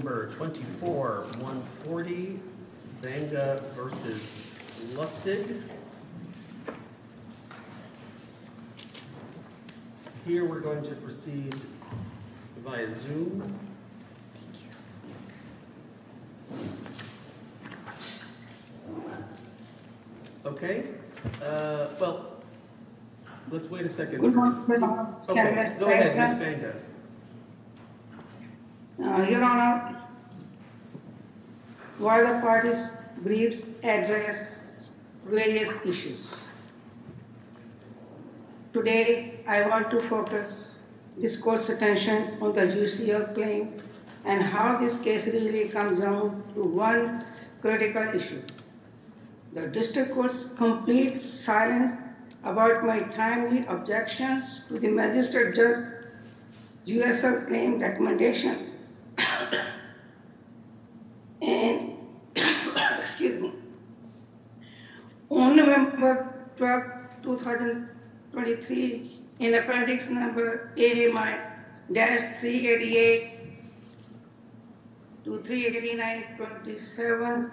24-140 Vanga v. Lustig Here we're going to proceed via Zoom. Okay, well, let's wait a second. Okay, go ahead, Ms. Vanga. Your Honor, while the parties briefs address various issues, today I want to focus this court's attention on the UCL claim and how this case really comes down to one critical issue. The district court's complete silence about my timely objections to the Magistrate Judge's UCL claim recommendation. On November 12, 2023, in Appendix A-388 to 389-27,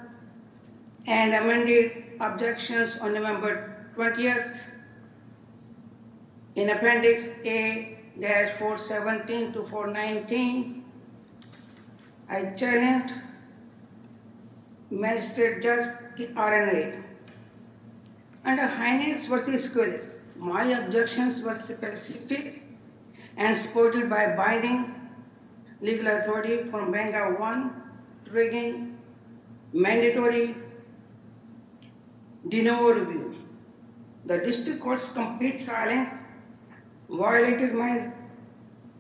and amended objections on November 20, in Appendix A-417 to 419, I challenged Magistrate Judge R.N. Reid. Under Hines v. Squillis, my objections were superseded and supported by Biden's legal authority from Vanga I, triggering mandatory de novo review. The district court's complete silence violated my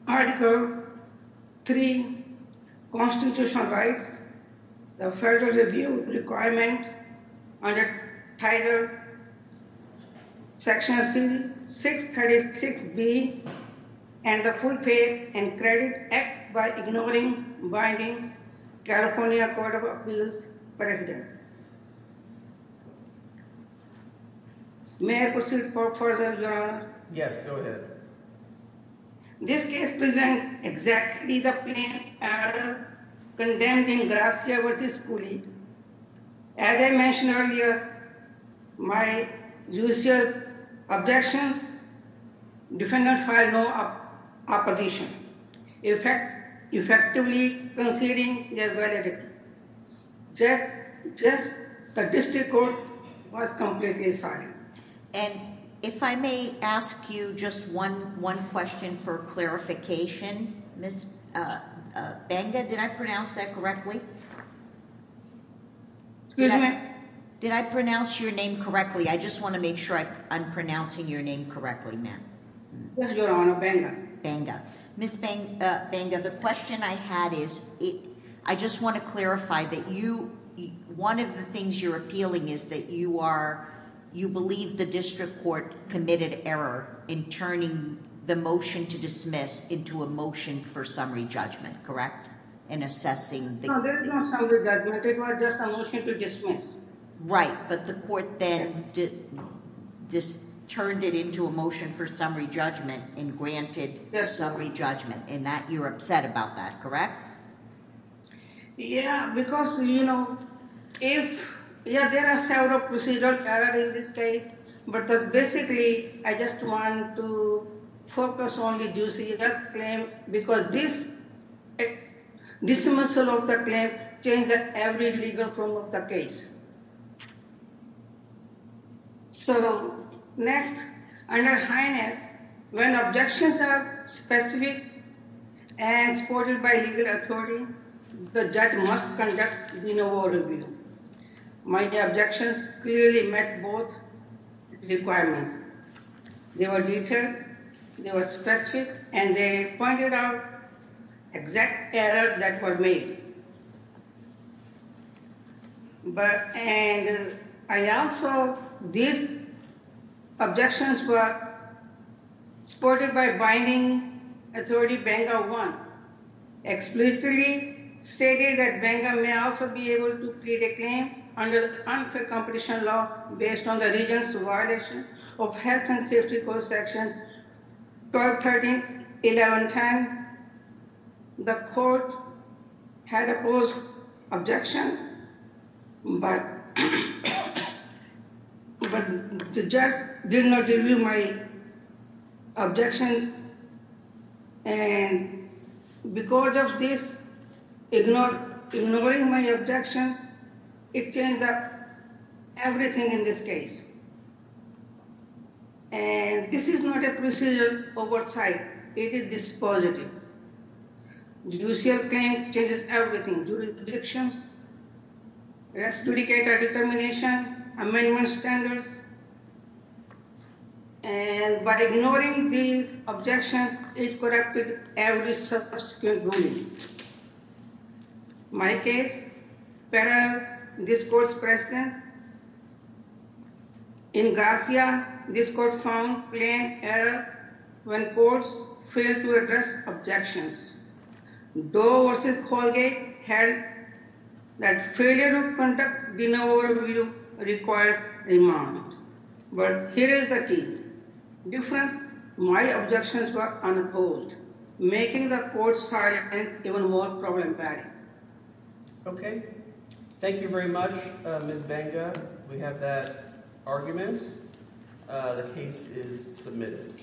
Article III Constitutional Rights, the Federal Review Requirement under Title Section C-636B, and the Full Pay and Credit Act by ignoring binding California Court of Appeals precedent. May I proceed further, Your Honor? Yes, go ahead. This case presents exactly the plain error condemning Garcia v. Squillis. As I mentioned earlier, my UCL objections defendant filed no opposition, effectively conceding their validity. Just the district court was completely silent. And if I may ask you just one question for clarification, Ms. Vanga, did I pronounce that correctly? Excuse me? Did I pronounce your name correctly? I just want to make sure I'm pronouncing your name correctly, ma'am. Yes, Your Honor, Vanga. Ms. Vanga, the question I had is, I just want to clarify that one of the things you're appealing is that you believe the district court committed error in turning the motion to dismiss into a motion for summary judgment, correct? No, there is no summary judgment. It was just a motion to dismiss. Right, but the court then turned it into a motion for summary judgment and granted summary judgment, and you're upset about that, correct? Yeah, because, you know, there are several procedural errors in this case, but basically I just want to focus on the UCL claim because this dismissal of the claim changed every legal form of the case. So next, Your Highness, when objections are specific and supported by legal authority, the judge must conduct renewal review. My objections clearly met both requirements. They were detailed, they were specific, and they pointed out exact errors that were made. But, and I also, these objections were supported by binding authority Vanga 1, explicitly stated that Vanga may also be able to plead a claim under unfair competition law based on the region's violation of health and safety code section 12131110. And the court had opposed objection, but the judge did not review my objection, and because of this, ignoring my objections, it changed up everything in this case. And this is not a procedural oversight, it is dispositive. The UCL claim changes everything. And by ignoring these objections, it corrected every subsequent ruling. My case, parallel this court's precedent. In Garcia, this court found plain error when courts failed to address objections. Doe v. Colgate held that failure to conduct renewal review requires remandment. But here is the key. Difference, my objections were unopposed, making the court's silence even more problematic. Okay. Thank you very much, Ms. Vanga. We have that argument. The case is submitted.